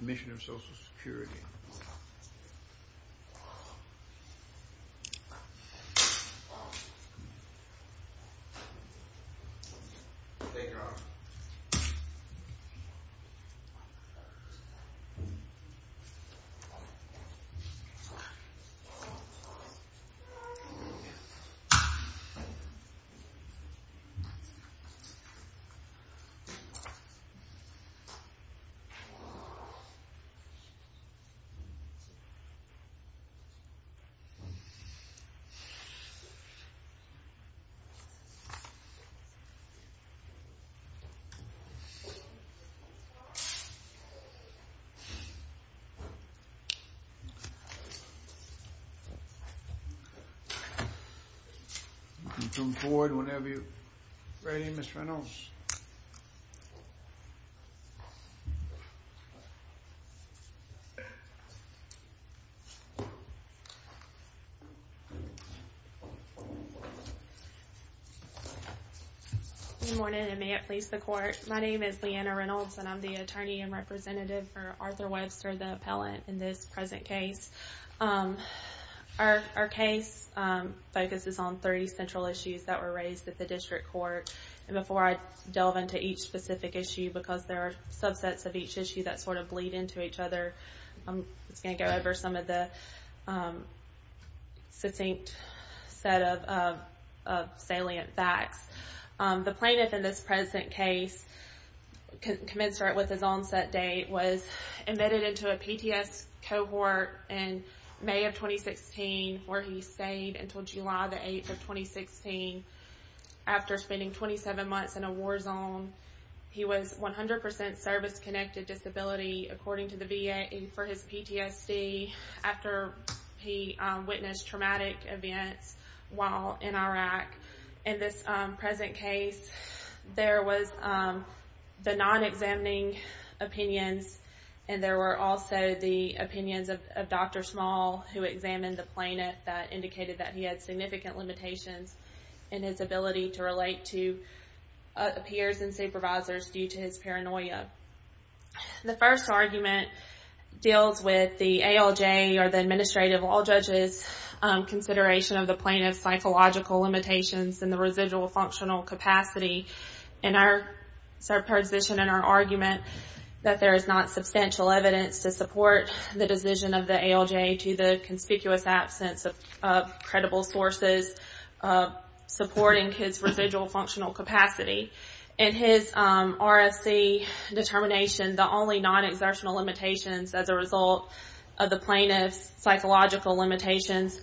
Mission of Social Security. You can come forward whenever you're ready, Mr. Reynolds. Good morning, and may it please the court. My name is Leanna Reynolds, and I'm the attorney and representative for Arthur Webster, the appellant in this present case. Our case focuses on 30 central issues that were raised at the district court, and before I delve into each specific issue, because there are subsets of each issue that sort of bleed into each other, I'm just going to go over some of the succinct set of salient facts. The plaintiff in this present case, commensurate with his onset date, was admitted into a PTS cohort in May of 2016, where he stayed until July the 8th of 2016, after spending 27 months in a war zone. He was 100% service-connected disability, according to the VA, for his PTSD, after he witnessed traumatic events while in Iraq. In this present case, there was the non-examining opinions, and there were also the opinions of Dr. Small, who examined the plaintiff, that indicated that he had significant limitations in his ability to relate to peers and supervisors due to his paranoia. The first argument deals with the ALJ, or the Administrative Law Judges, consideration of the plaintiff's psychological limitations and the residual functional capacity. In our position, in our argument, that there is not substantial evidence to support the decision of the ALJ to the conspicuous absence of credible sources supporting his residual functional capacity. In his RFC determination, the only non-exertional limitations as a result of the plaintiff's psychological limitations,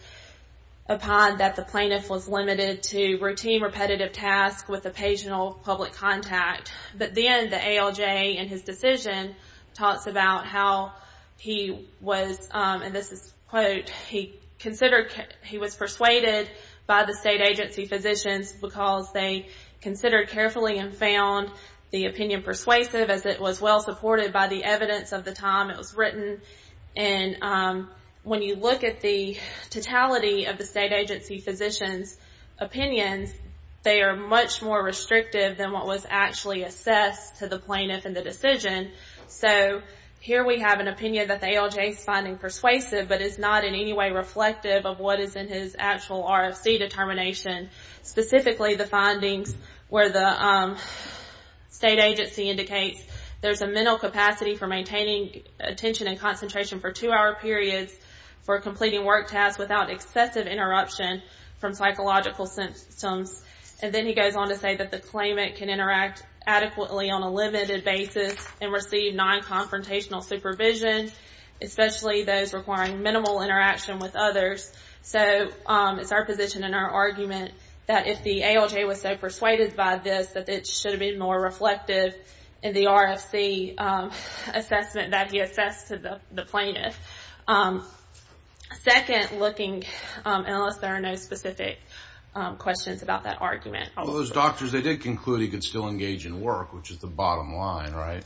upon that the plaintiff was limited to routine repetitive tasks with occasional public contact. But then the ALJ in his decision talks about how he was, and this is a quote, he was persuaded by the state agency physicians because they considered carefully and found the opinion persuasive as it was well supported by the evidence of the time it was written. And when you look at the totality of the state agency physician's opinions, they are much more restrictive than what was actually assessed to the plaintiff in the decision. So here we have an opinion that the ALJ is finding persuasive, but is not in any way reflective of what is in his actual RFC determination, specifically the findings where the state agency indicates there's a mental capacity for maintaining attention and concentration for two hour periods for completing work tasks without excessive interruption from psychological symptoms. And then he goes on to say that the claimant can interact adequately on a limited basis and receive non-confrontational supervision, especially those requiring minimal interaction with others. So it's our position and our argument that if the ALJ was so persuaded by this, that it should have been more reflective in the RFC assessment that he assessed to the plaintiff. Second, looking, unless there are no specific questions about that argument. Those doctors, they did conclude he could still engage in work, which is the bottom line, right?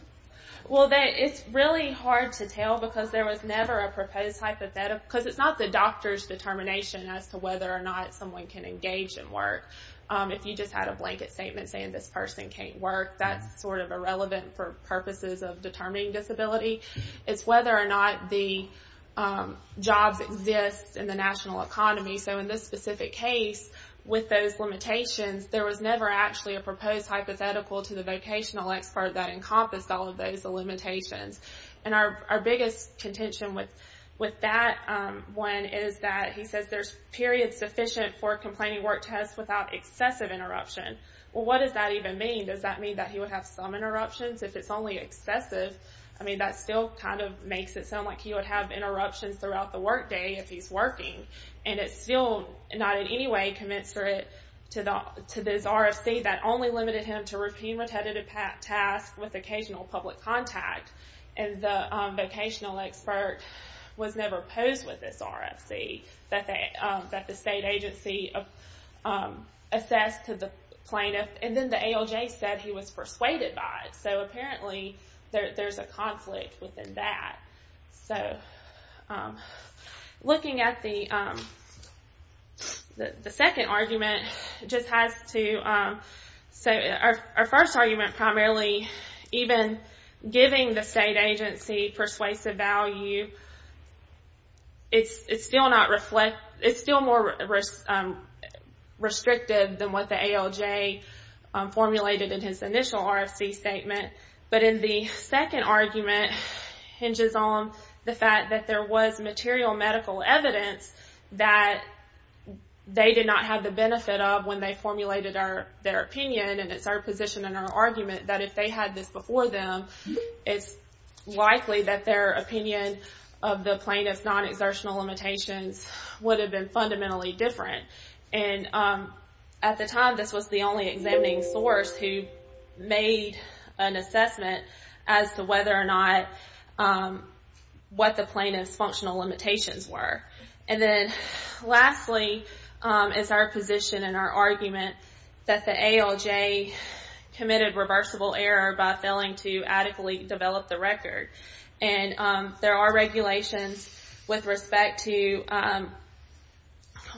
Well, it's really hard to tell because there was never a proposed hypothetical, because it's not the doctor's determination as to whether or not someone can engage in work. If you just had a blanket statement saying this person can't work, that's sort of irrelevant for purposes of determining disability. It's whether or not the jobs exist in the national economy. So in this specific case, with those limitations, there was never actually a proposed hypothetical to the vocational expert that encompassed all of those limitations. And our biggest contention with that one is that he says there's periods sufficient for complaining work tests without excessive interruption. Well, what does that even mean? Does that mean he would have some interruptions if it's only excessive? I mean, that still kind of makes it sound like he would have interruptions throughout the workday if he's working. And it's still not in any way commensurate to this RFC that only limited him to routine repetitive tasks with occasional public contact. And the vocational expert was never opposed with this RFC that the state agency assessed to the plaintiff. And then the ALJ said he was persuaded by it. So apparently there's a conflict within that. Looking at the second argument, our first argument primarily, even giving the state agency persuasive value, it's still more restrictive than what the ALJ formulated in his initial RFC statement. But in the second argument hinges on the fact that there was material medical evidence that they did not have the benefit of when they formulated their opinion. And it's our position and our argument that if they had this before them, it's likely that their opinion of the plaintiff's non-exertional limitations would have been fundamentally different. And at the time, this was the only examining source who made an assessment as to whether or not what the plaintiff's functional limitations were. And then lastly is our position and our argument that the ALJ committed reversible error by failing to adequately develop the record. And there are regulations with respect to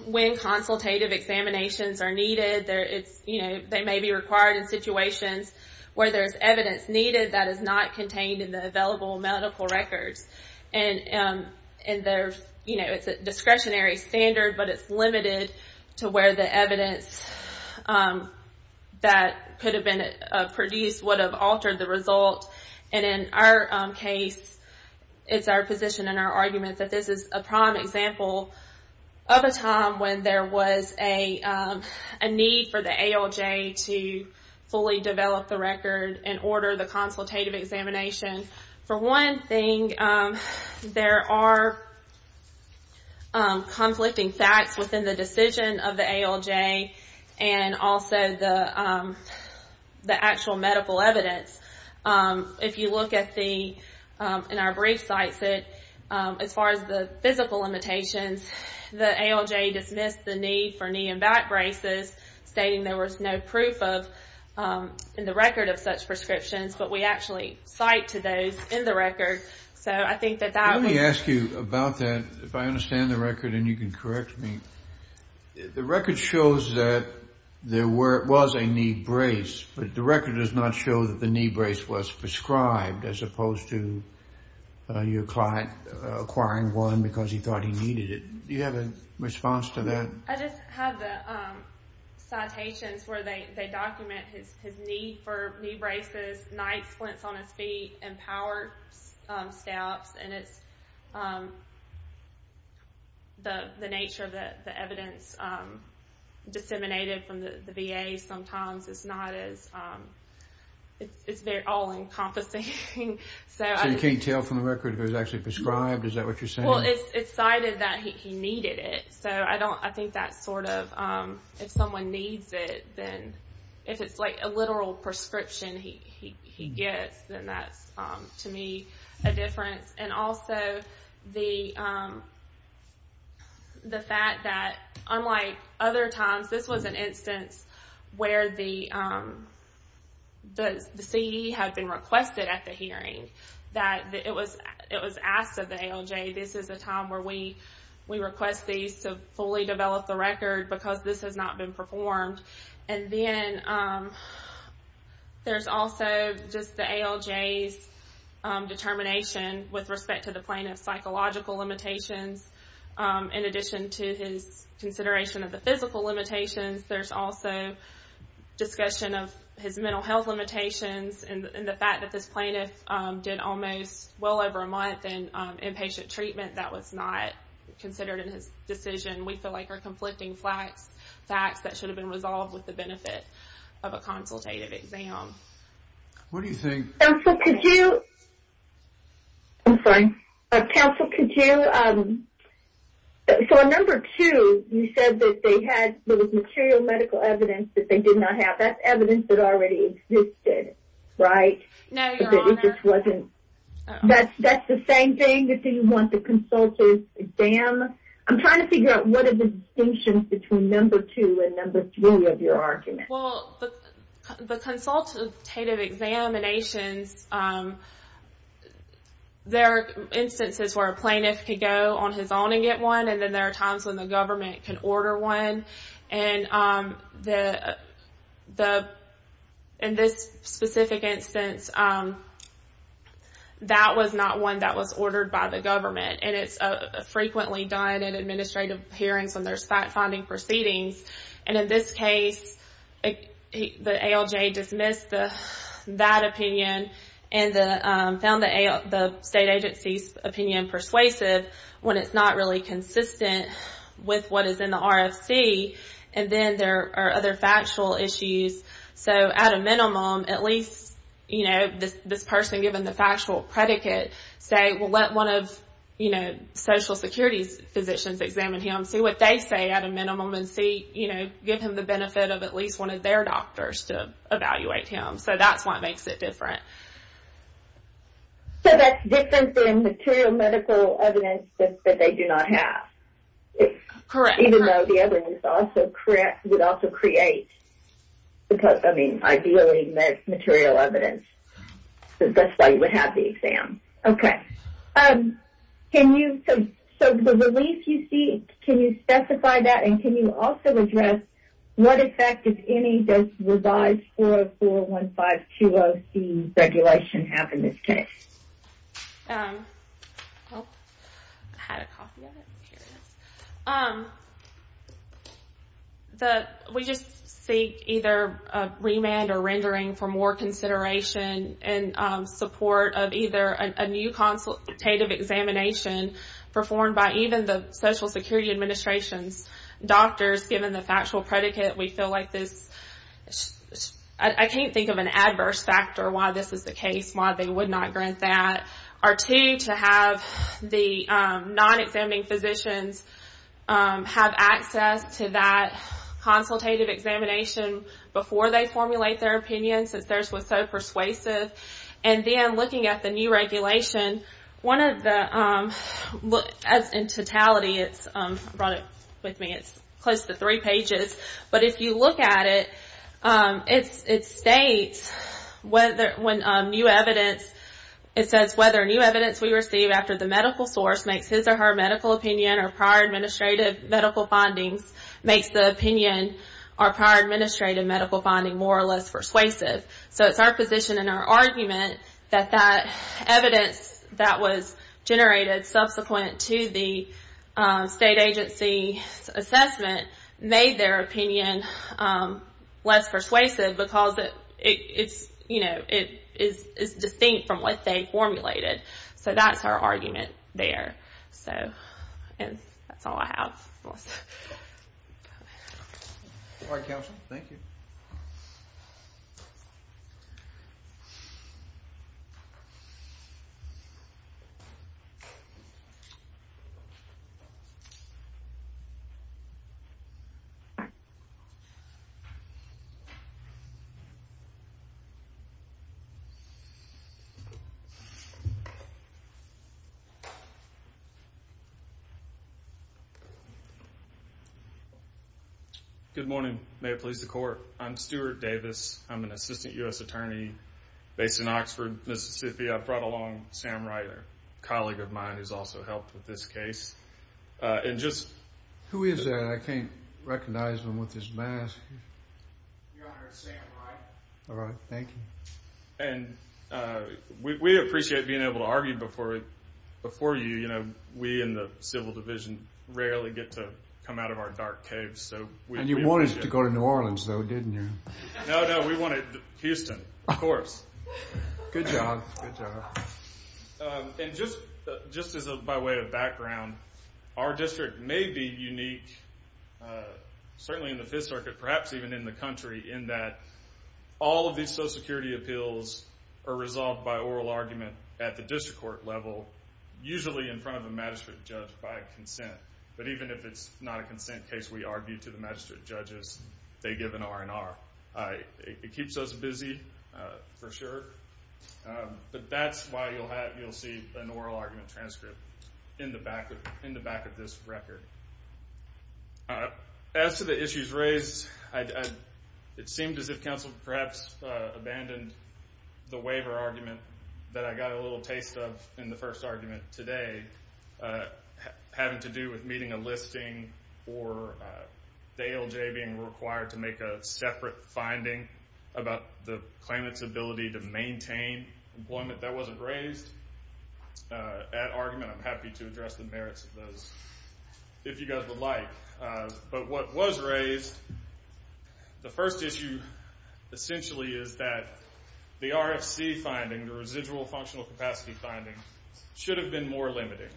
when consultative examinations are needed. They may be required in situations where there's evidence needed that is not contained in the available medical records. And it's a discretionary standard but it's limited to where the evidence that could have been produced would have altered the result. And in our case, it's our position and our argument that this is a prime example of a time when there was a need for the ALJ to fully develop the record and order the consultative examination. For one thing, there are conflicting facts within the decision of the ALJ and also the actual medical evidence. If you look at the, in our brief sites, as far as the physical limitations, the ALJ dismissed the need for knee and back braces, stating there was no proof in the record of such prescriptions, but we actually cite to those in the record. So I think that that would... Let me ask you about that, if I understand the record and you can correct me. The record shows that there was a knee brace, but the record does not show that the knee brace was prescribed as opposed to your client acquiring one because he thought he needed it. Do you have a response to that? I just have the citations where they document his need for knee braces, night splints on his feet, and power stabs. And it's the nature of the evidence that we have. Disseminated from the VA sometimes, it's not as... It's very all-encompassing. So you can't tell from the record if it was actually prescribed? Is that what you're saying? Well, it's cited that he needed it. So I think that's sort of, if someone needs it, then if it's like a literal prescription he gets, then that's, to me, a difference. And also the fact that, unlike other times, this was an instance where the CDE had been requested at the hearing, that it was asked of the ALJ, this is the time where we request these to fully develop the record because this has not been performed. And then there's also just the ALJ's determination with respect to the plaintiff's psychological limitations in addition to his consideration of the physical limitations. There's also discussion of his mental health limitations and the fact that this plaintiff did almost well over a month in inpatient treatment that was not considered in his decision. We feel like are conflicting facts that should have been resolved with the benefit of a consultative exam. What do you think... Counsel, could you... I'm sorry. Counsel, could you... So on number two, you said that they had, there was material medical evidence that they did not have. That's evidence that already existed, right? No, Your Honor. That it just wasn't... That's the same thing? That they want the consultative exam? I'm trying to figure out what are the distinctions between number two and number three of your argument. Well, the consultative examinations, there are instances where a plaintiff could go on his own and get one, and then there are times when the government can order one. And in this specific instance, that was not one that was ordered by the government. And it's a case where there's administrative hearings and there's fact-finding proceedings. And in this case, the ALJ dismissed that opinion and found the state agency's opinion persuasive when it's not really consistent with what is in the RFC. And then there are other factual issues. So at a minimum, at least, you know, this person given the factual predicate, say we'll let one of, you know, Social Security's physicians examine him, see what they say at a minimum, and see, you know, give him the benefit of at least one of their doctors to evaluate him. So that's what makes it different. So that's different than material medical evidence that they do not have? Correct. Even though the evidence would also create... I mean, ideally, material evidence. That's how you would have the exam. Okay. Can you... So the relief you seek, can you specify that and can you also address what effect, if any, does revised 4041520C regulation have in this case? I had a copy of it. Here it is. We just seek either remand or rendering for more consideration in support of either a new consultative examination performed by even the Social Security Administration's doctors given the factual predicate. We feel like this... I can't think of an adverse factor why this is the case, why they would not grant that. Or two, to have the non-examining physicians have access to that consultative examination before they formulate their opinions, since theirs was so persuasive. And then looking at the new regulation, one of the... In totality, it's... I brought it with me. It's close to three pages. But if you look at it, it states when new evidence... It says whether new evidence we receive after the medical source makes his or her medical opinion or prior administrative medical finding more or less persuasive. So it's our position and our argument that that evidence that was generated subsequent to the state agency's assessment made their opinion less persuasive because it is distinct from what they formulated. So that's our argument there. And that's all I have. All right, counsel. Thank you. Good morning. May it please the court. I'm Stuart Davis. I'm an assistant U.S. attorney based in Oxford, Mississippi. I brought along Sam Wright, a colleague of mine who's also helped with this case. And just... Who is that? I can't recognize him with his mask. Your Honor, it's Sam Wright. All right, thank you. And we appreciate being able to argue before you. You know, we in the civil division rarely get to come out of our dark caves. And you wanted to go to New Orleans, though, didn't you? No, no. We wanted Houston, of course. Good job. Good job. And just by way of background, our district may be unique, certainly in the Fifth Circuit, perhaps even in the country, in that all of these Social Security appeals are resolved by oral argument at the district court level, usually in front of a magistrate judge by consent. But even if it's not a consent case, we argue to the magistrate judges. They give an R&R. It keeps us busy, for sure. But that's why you'll see an oral argument transcript in the back of this record. As to the issues raised, it seemed as if counsel perhaps abandoned the waiver argument that I got a little taste of in the first argument today, having to do with meeting a listing or Dale Jay being required to make a separate finding about the claimant's ability to maintain employment that wasn't raised. That argument, I'm happy to address the merits of those if you guys would like. But what was raised, the first issue essentially is that the RFC finding, the Residual Functional Capacity finding, should have been more limiting.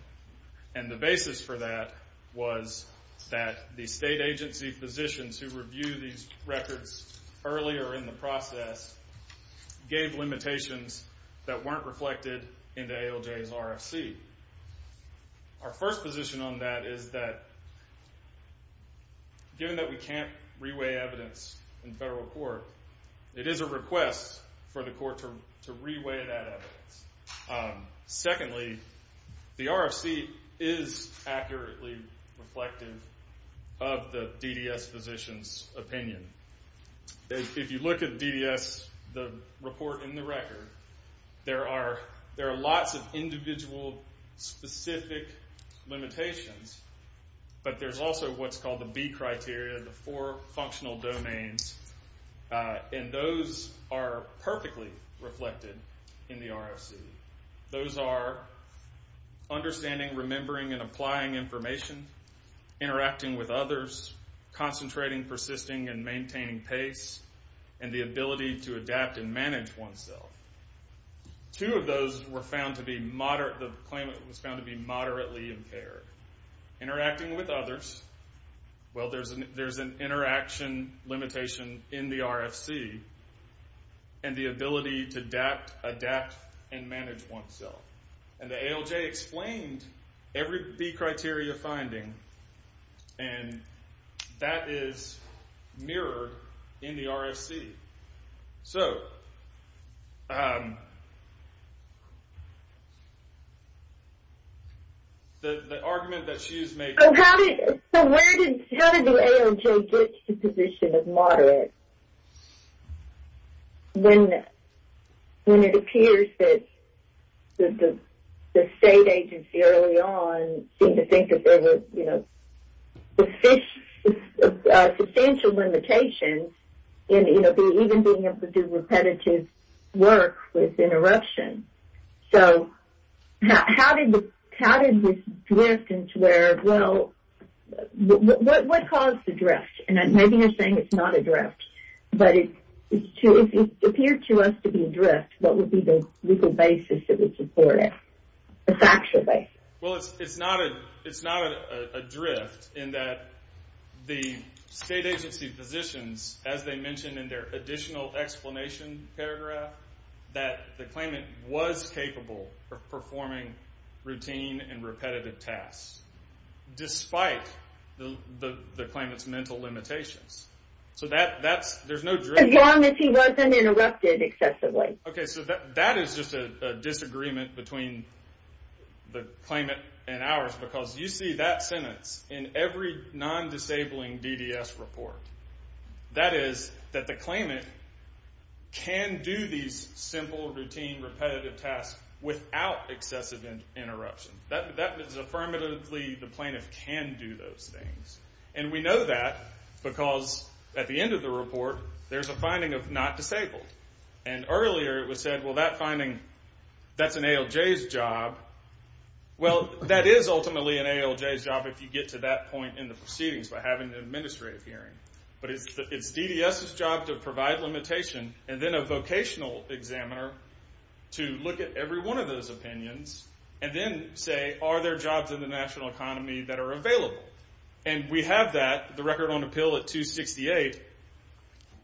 And the basis for that was that the state agency physicians who review these records earlier in the process gave limitations that weren't reflected in Dale Jay's RFC. Our first position on that is that given that we can't reweigh evidence in federal court, it is a request for the court to reweigh that evidence. Secondly, the RFC is accurately reflective of the DDS physician's opinion. If you look at DDS, the report in the record, there are lots of individual specific limitations. But there's also what's called the B criteria, the four functional domains. And those are perfectly reflected in the RFC. Those are understanding, remembering, and applying information. Interacting with others. Concentrating, persisting, and maintaining pace. And the ability to adapt and manage oneself. Two of those were found to be moderate, the claimant was found to be moderately impaired. Interacting with others. Well, there's an interaction limitation in the RFC. And the ability to adapt, adapt, and manage oneself. And Dale Jay explained every B criteria finding. And that is mirrored in the RFC. So, the argument that she is making. So how did the AOJ get to the position of moderate? When it appears that the state agency early on seemed to think that there were substantial limitations in even being able to do repetitive work with interruption. So, how did this drift into where, well, what caused the drift? And maybe you're saying it's not a drift. But it appeared to us to be a drift. What would be the legal basis that would support it? The factual basis. Well, it's not a drift in that the state agency positions, as they mentioned in their additional explanation paragraph, that the claimant was capable of performing routine and repetitive tasks. Despite the claimant's mental limitations. So, there's no drift. As long as he wasn't interrupted excessively. Okay, so that is just a disagreement between the claimant and ours. Because you see that sentence in every non-disabling DDS report. That is that the claimant can do these simple, routine, repetitive tasks without excessive interruption. That is affirmatively the plaintiff can do those things. And we know that because at the end of the report, there's a finding of not disabled. And earlier it was said, well, that finding, that's an ALJ's job. Well, that is ultimately an ALJ's job if you get to that point in the proceedings by having an administrative hearing. But it's DDS's job to provide limitation and then a vocational examiner to look at every one of those opinions and then say, are there jobs in the national economy that are available? And we have that, the record on appeal at 268,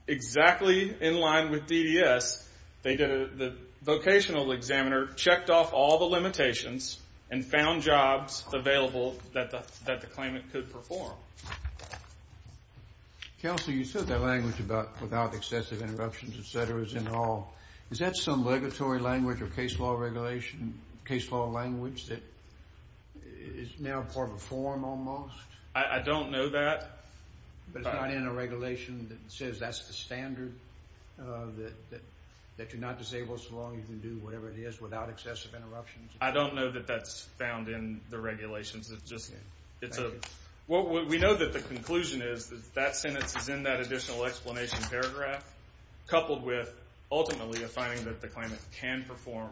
exactly in line with DDS. The vocational examiner checked off all the limitations and found jobs available that the claimant could perform. Counsel, you said that language about without excessive interruptions, et cetera, is in all. Is that some regulatory language or case law regulation, case law language that is now part of a form almost? I don't know that. But it's not in a regulation that says that's the standard that you're not disabled so long you can do whatever it is without excessive interruptions? I don't know that that's found in the regulations. It's just... We know that the conclusion is that that sentence is in that additional explanation paragraph that the claimant can perform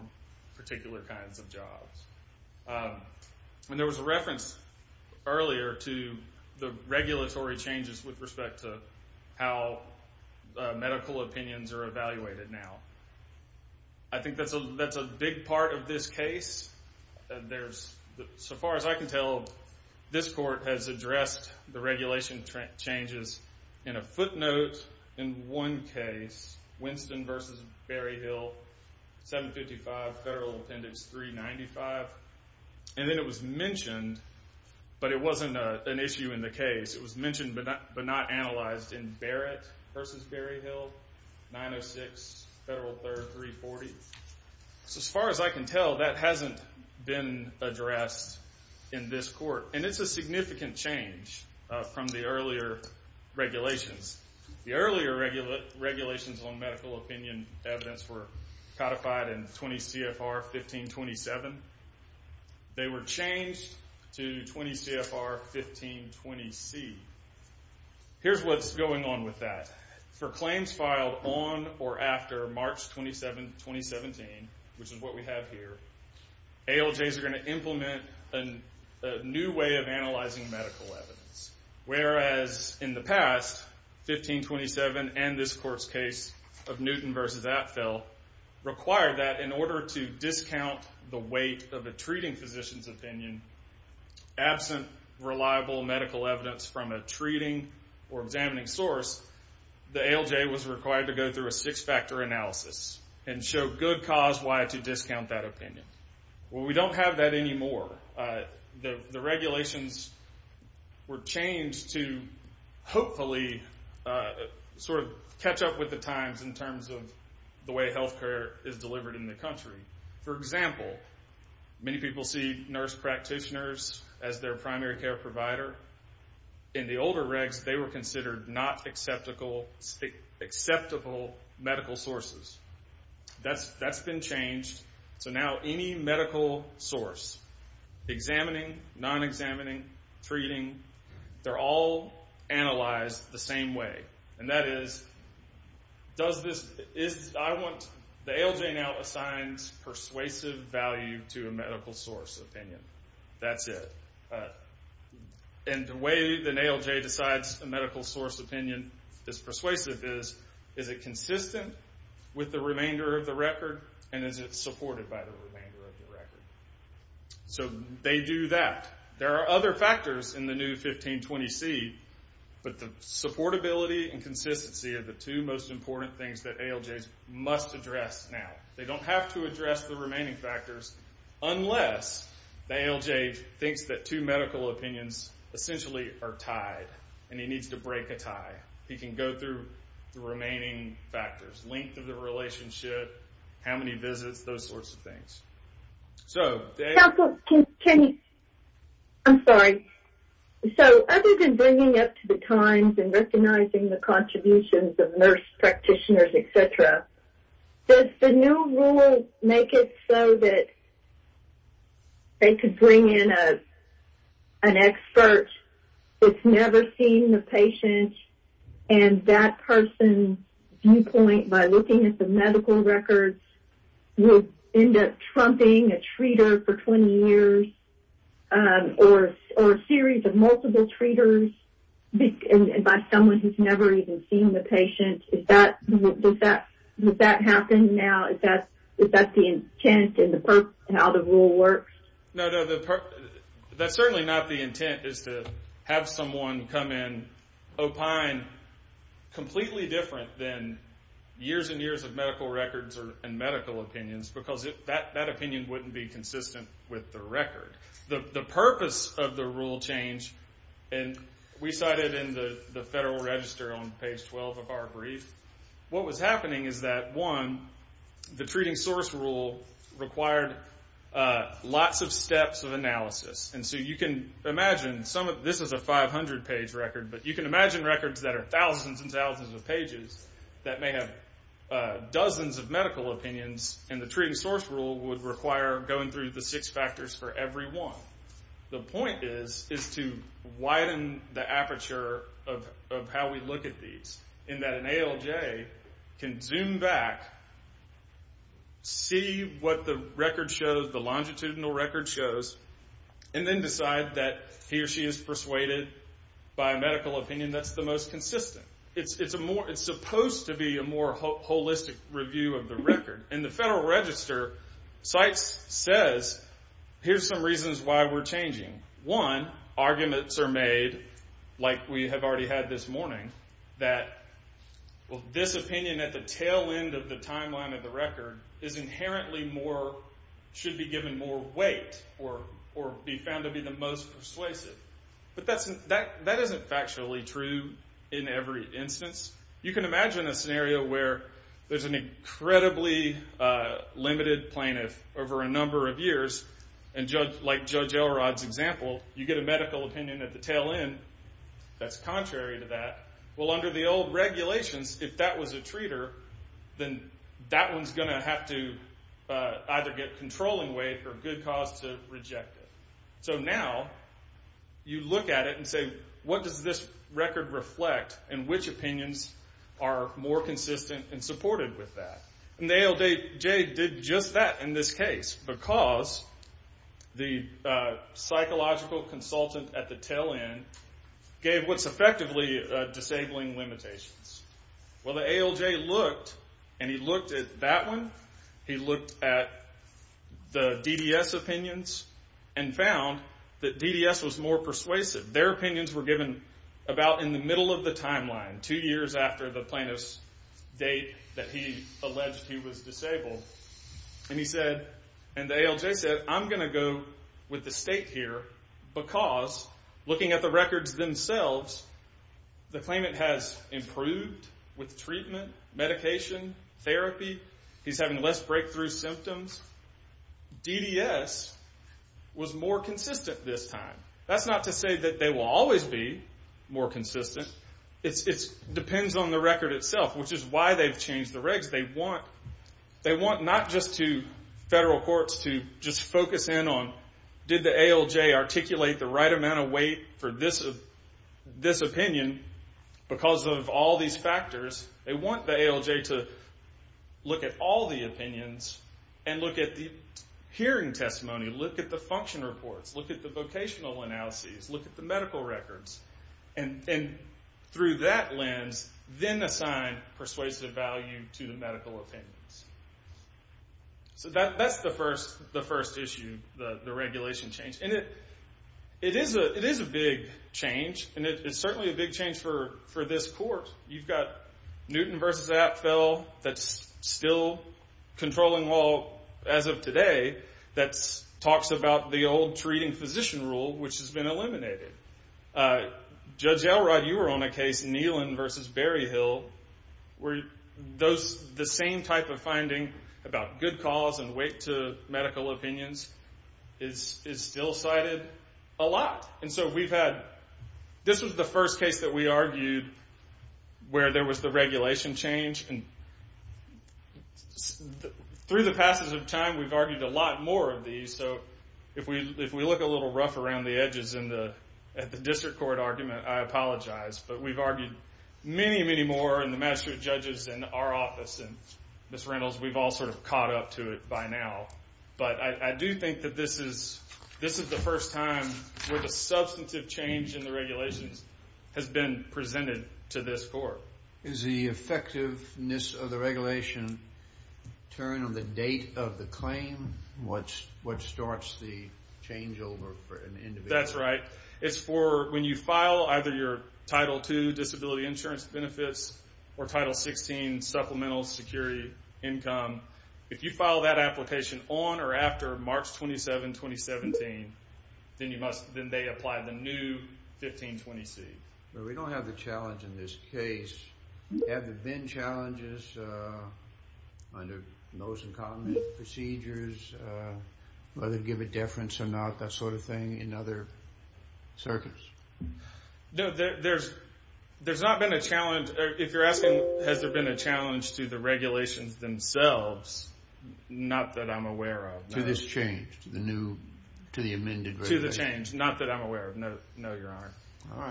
particular kinds of jobs. And there was a reference earlier to the regulatory changes with respect to how medical opinions are evaluated now. I think that's a big part of this case. There's... So far as I can tell, this court has addressed the regulation changes in a footnote in one case, Winston v. Berryhill, 755 Federal Appendix 395. And then it was mentioned, but it wasn't an issue in the case. It was mentioned but not analyzed in Barrett v. Berryhill, 906 Federal Third 340. So as far as I can tell, that hasn't been addressed in this court. And it's a significant change from the earlier regulations. The earlier regulations on medical opinion evidence were codified in 20 C.F.R. 1527. They were changed to 20 C.F.R. 1520C. Here's what's going on with that. For claims filed on or after March 27, 2017, which is what we have here, ALJs are gonna implement a new way of analyzing medical evidence. Whereas in the past, 1527 and this court's case of Newton v. Atfill required that in order to discount the weight of a treating physician's opinion, absent reliable medical evidence from a treating or examining source, the ALJ was required to go through a six-factor analysis and show good cause why to discount that opinion. Well, we don't have that anymore. The regulations were changed to hopefully sort of catch up with the times in terms of the way health care is delivered in the country. For example, many people see nurse practitioners as their primary care provider. In the older regs, they were considered not acceptable medical sources. That's been changed. So now any medical source, examining, non-examining, treating, they're all analyzed the same way. And that is, does this... The ALJ now assigns persuasive value to a medical source opinion. That's it. And the way an ALJ decides a medical source opinion is persuasive is is it consistent with the remainder of the record and is it supported by the remainder of the record? So they do that. There are other factors in the new 1520C, but the supportability and consistency are the two most important things that ALJs must address now. They don't have to address the remaining factors unless the ALJ thinks that two medical opinions essentially are tied and he needs to break a tie. He can go through the remaining factors, length of the relationship, how many visits, those sorts of things. So... Can you... I'm sorry. So other than bringing up to the times and recognizing the contributions of nurse practitioners, et cetera, does the new rule make it so that they could bring in an expert that's never seen the patient and that person's viewpoint by looking at the medical records will end up trumping a treater for 20 years or a series of multiple treaters by someone who's never even seen the patient? Would that happen now? Is that the intent and how the rule works? No, no. That's certainly not the intent is to have someone come in opine completely different than years and years of medical records and medical opinions because that opinion wouldn't be consistent with the record. The purpose of the rule change and we cited in the Federal Register on page 12 of our brief, what was happening is that, one, the treating source rule required lots of steps of analysis. And so you can imagine this is a 500-page record but you can imagine records that are thousands and thousands of pages that may have dozens of medical opinions and the treating source rule would require going through the six factors for every one. The point is to widen the aperture of how we look at these in that an ALJ can zoom back see what the record shows the longitudinal record shows and then decide that he or she is persuaded by a medical opinion that's the most consistent. It's supposed to be a more holistic review of the record and the Federal Register says, here's some reasons why we're changing. One, arguments are made like we have already had this morning that this opinion at the tail end of the timeline of the record is inherently more should be given more weight or be found to be the most persuasive. But that isn't factually true in every instance. You can imagine a scenario where there's an incredibly limited plaintiff over a number of years like Judge Elrod's example you get a medical opinion at the tail end that's contrary to that well under the old regulations if that was a treater then that one's gonna have to either get controlling weight or good cause to reject it. So now you look at it and say what does this record reflect and which opinions are more consistent and supported with that. And the ALJ did just that in this case because the psychological consultant at the tail end gave what's effectively disabling limitations. Well the ALJ looked and he looked at that one he looked at the and he found that DDS was more persuasive. Their opinions were given about in the middle of the timeline two years after the plaintiff's date that he alleged he was disabled. And he said and the ALJ said I'm gonna go with the state here because looking at the records themselves the claimant has improved with treatment, medication therapy, he's having less breakthrough symptoms DDS was more consistent this time. That's not to say that they will always be more consistent it depends on the record itself which is why they've changed the regs they want not just to federal courts to just focus in on did the ALJ articulate the right amount of weight for this opinion because of all these factors. They want the ALJ to look at all the opinions and look at the hearing testimony look at the function reports, look at the vocational analyses, look at the medical records and through that lens then assign persuasive value to the medical opinions so that's the first issue, the regulation change and it is a big change certainly a big change for this court you've got Newton vs. that's still controlling law as of today that talks about the old treating physician rule which has been eliminated Judge Elrod you were on a case Nealon vs. Berryhill where the same type of finding about good cause and weight to medical opinions is still cited a lot and so we've had, this was the first case that we argued where there was the regulation change and through the passes of time we've argued a lot more of these so if we look a little rough around the edges in the district court argument I apologize but we've argued many many more in the magistrate judges and our office and Ms. Reynolds we've all sort of caught up to it by now but I do think that this is this is the first time where the substantive change in the regulations has been presented to this court Is the effectiveness of the regulation turn on the date of the claim? What starts the change over for an individual? That's right it's for when you file either your title 2 disability insurance benefits or title 16 supplemental security income if you file that application on or after March 27, 2017 then you must then they apply the new 1520C We don't have the challenge in this case have there been challenges under those incumbent procedures whether to give a deference or not that sort of thing in other circuits? There's not been a challenge if you're asking has there been a challenge to the regulations themselves not that I'm aware of To this change? To the new not that I'm aware of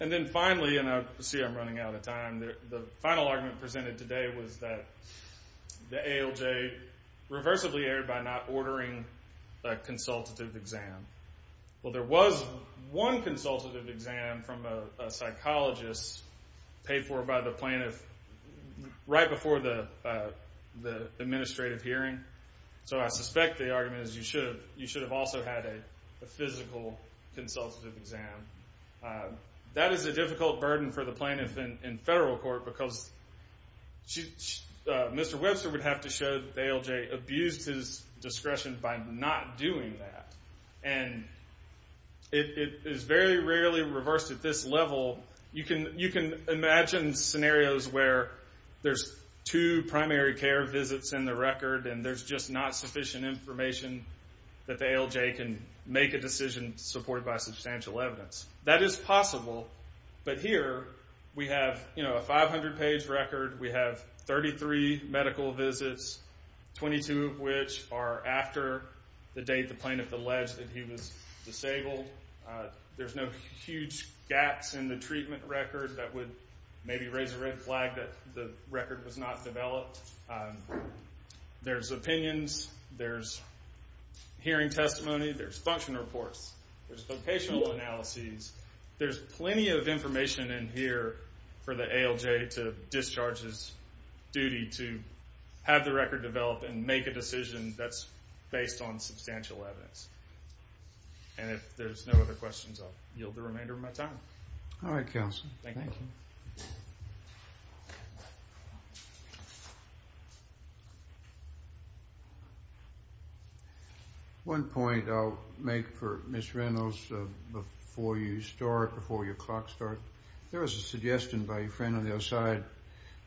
and then finally see I'm running out of time the final argument presented today was that the ALJ reversibly erred by not ordering a consultative exam well there was one consultative exam from a psychologist paid for by the plaintiff right before the administrative hearing so I suspect the argument is you should have also had a physical consultative exam that is a difficult burden for the plaintiff in federal court because Mr. Webster would have to show that the ALJ abused his discretion by not doing that and it is very rarely reversed at this level you can imagine scenarios where there's two primary care visits in the record and there's just not sufficient information that the ALJ can make a decision supported by substantial evidence that is possible but here we have a 500 page record we have 33 medical visits 22 of which are after the date the plaintiff alleged that he was disabled there's no huge gaps in the treatment record that would maybe raise a red flag that the record was not developed there's opinions, there's hearing testimony, there's function reports, there's vocational analyses, there's plenty of information in here for the ALJ to discharge his duty to have the record developed and make a decision that's based on substantial evidence and if there's no other questions I'll yield the remainder of my time alright counsel thank you one point I'll make for Ms. Reynolds before you start before your clock starts there was a suggestion by a friend on the other side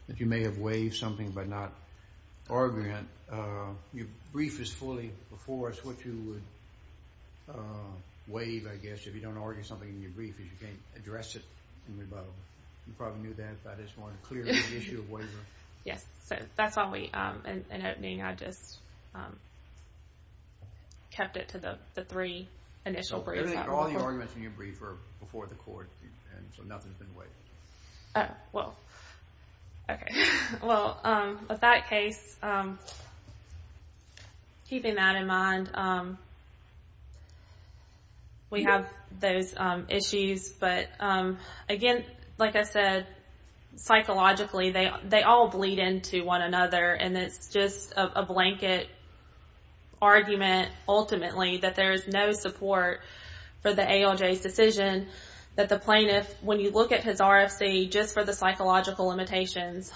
that you may have waived something by not arguing your brief is fully before us what you would waive I guess if you don't argue something in your brief if you can't address it you probably knew that that is one clear issue of waiver yes, so that's why in opening I just kept it to the three initial briefs all the arguments in your brief were before the court so nothing has been waived oh, well ok, well with that case keeping that in mind we have those issues but again like I said psychologically they all bleed into one another and it's just a blanket argument ultimately that there is no support for the ALJ's decision that the plaintiff when you look at his RFC just for the psychological limitations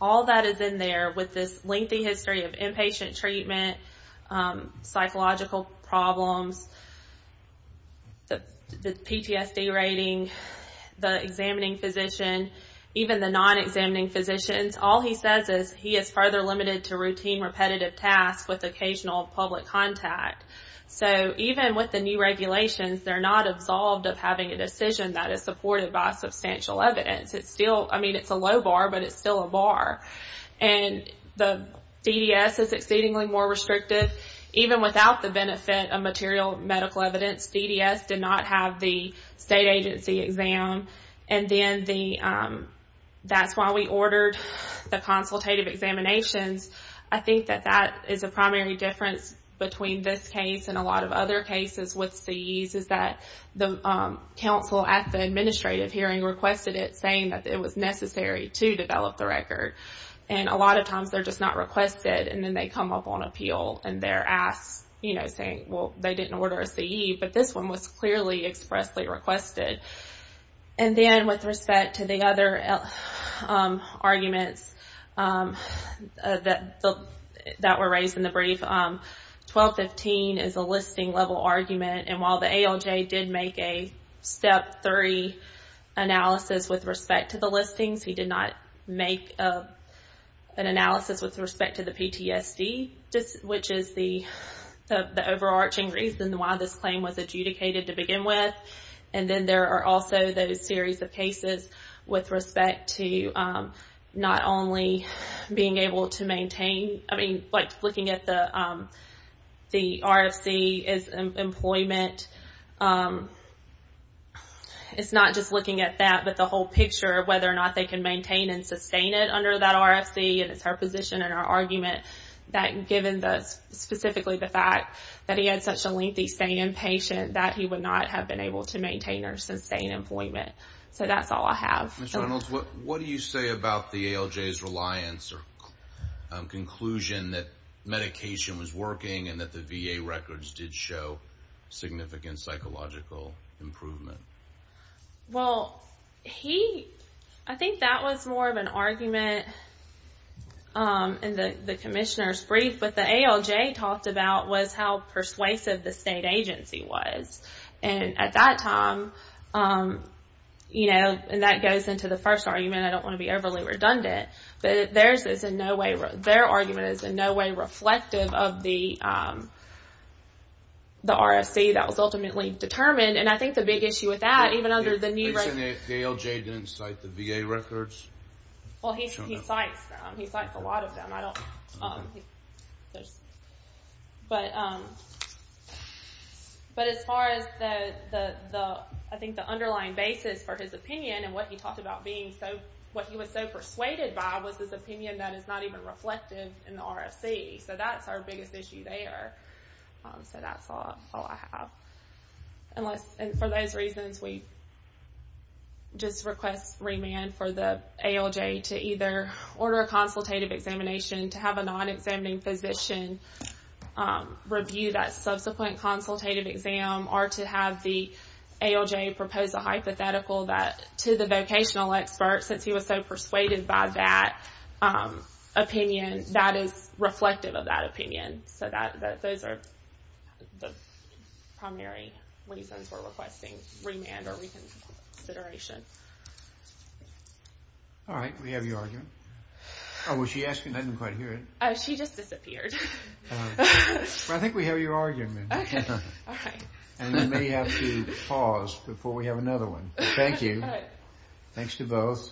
all that is in there with this lengthy history of inpatient treatment psychological problems the PTSD rating the examining physician even the non-examining physicians all he says is he is further limited to routine repetitive tasks with occasional public contact so even with the new regulations they're not absolved of having a decision that is supported by substantial evidence it's still I mean it's a low bar but it's still a bar and the DDS is exceedingly more restrictive even without the benefit of material medical evidence DDS did not have the state agency exam and then the that's why we ordered the consultative examinations I think that that is a primary difference between this case and a lot of other cases with CEs is that the council at the administrative hearing requested it saying that it was necessary to develop the record and a lot of times they're just not requested and then they come up on appeal and they're asked saying they didn't order a CE but this one was clearly expressly requested and then with respect to the other arguments that were raised in the brief 1215 is a listing level argument and while the ALJ did make a step 3 analysis with respect to the listings he did not make an analysis with respect to the PTSD which is the overarching reason why this claim was adjudicated to begin with and then there are also those series of cases with respect to not only being able to maintain like looking at the RFC employment it's not just looking at that but the whole picture of whether or not they can maintain and sustain it under that RFC and it's her position and her argument that given specifically the fact that he had such a lengthy staying in patient that he would not have been able to maintain or sustain employment so that's all I have. What do you say about the ALJ's reliance or conclusion that medication was working and that the VA records did show significant psychological improvement? Well he, I think that was more of an argument in the commissioner's brief but the ALJ talked about was how persuasive the state agency was and at that time you know and that goes into the first argument I don't want to be overly redundant but theirs is in no way their argument is in no way reflective of the RFC that was ultimately determined and I think the big issue with that even under the new ALJ didn't cite the VA records? Well he cites them he cites a lot of them there's but but as far as I think the underlying basis for his opinion and what he talked about being so, what he was so persuaded by was his opinion that is not even reflective in the RFC so that's our biggest issue there so that's all I have and for those reasons we just request remand for the ALJ to either order a consultative examination to have a non-examining physician review that subsequent consultative exam or to have the ALJ propose a hypothetical that to the vocational expert since he was so persuaded by that opinion that is reflective of that opinion so that those are the primary reasons we're requesting remand or reconsideration Alright we have your argument oh was she asking? I didn't quite hear it oh she just disappeared I think we have your argument and we may have to pause before we have another one thank you thanks to both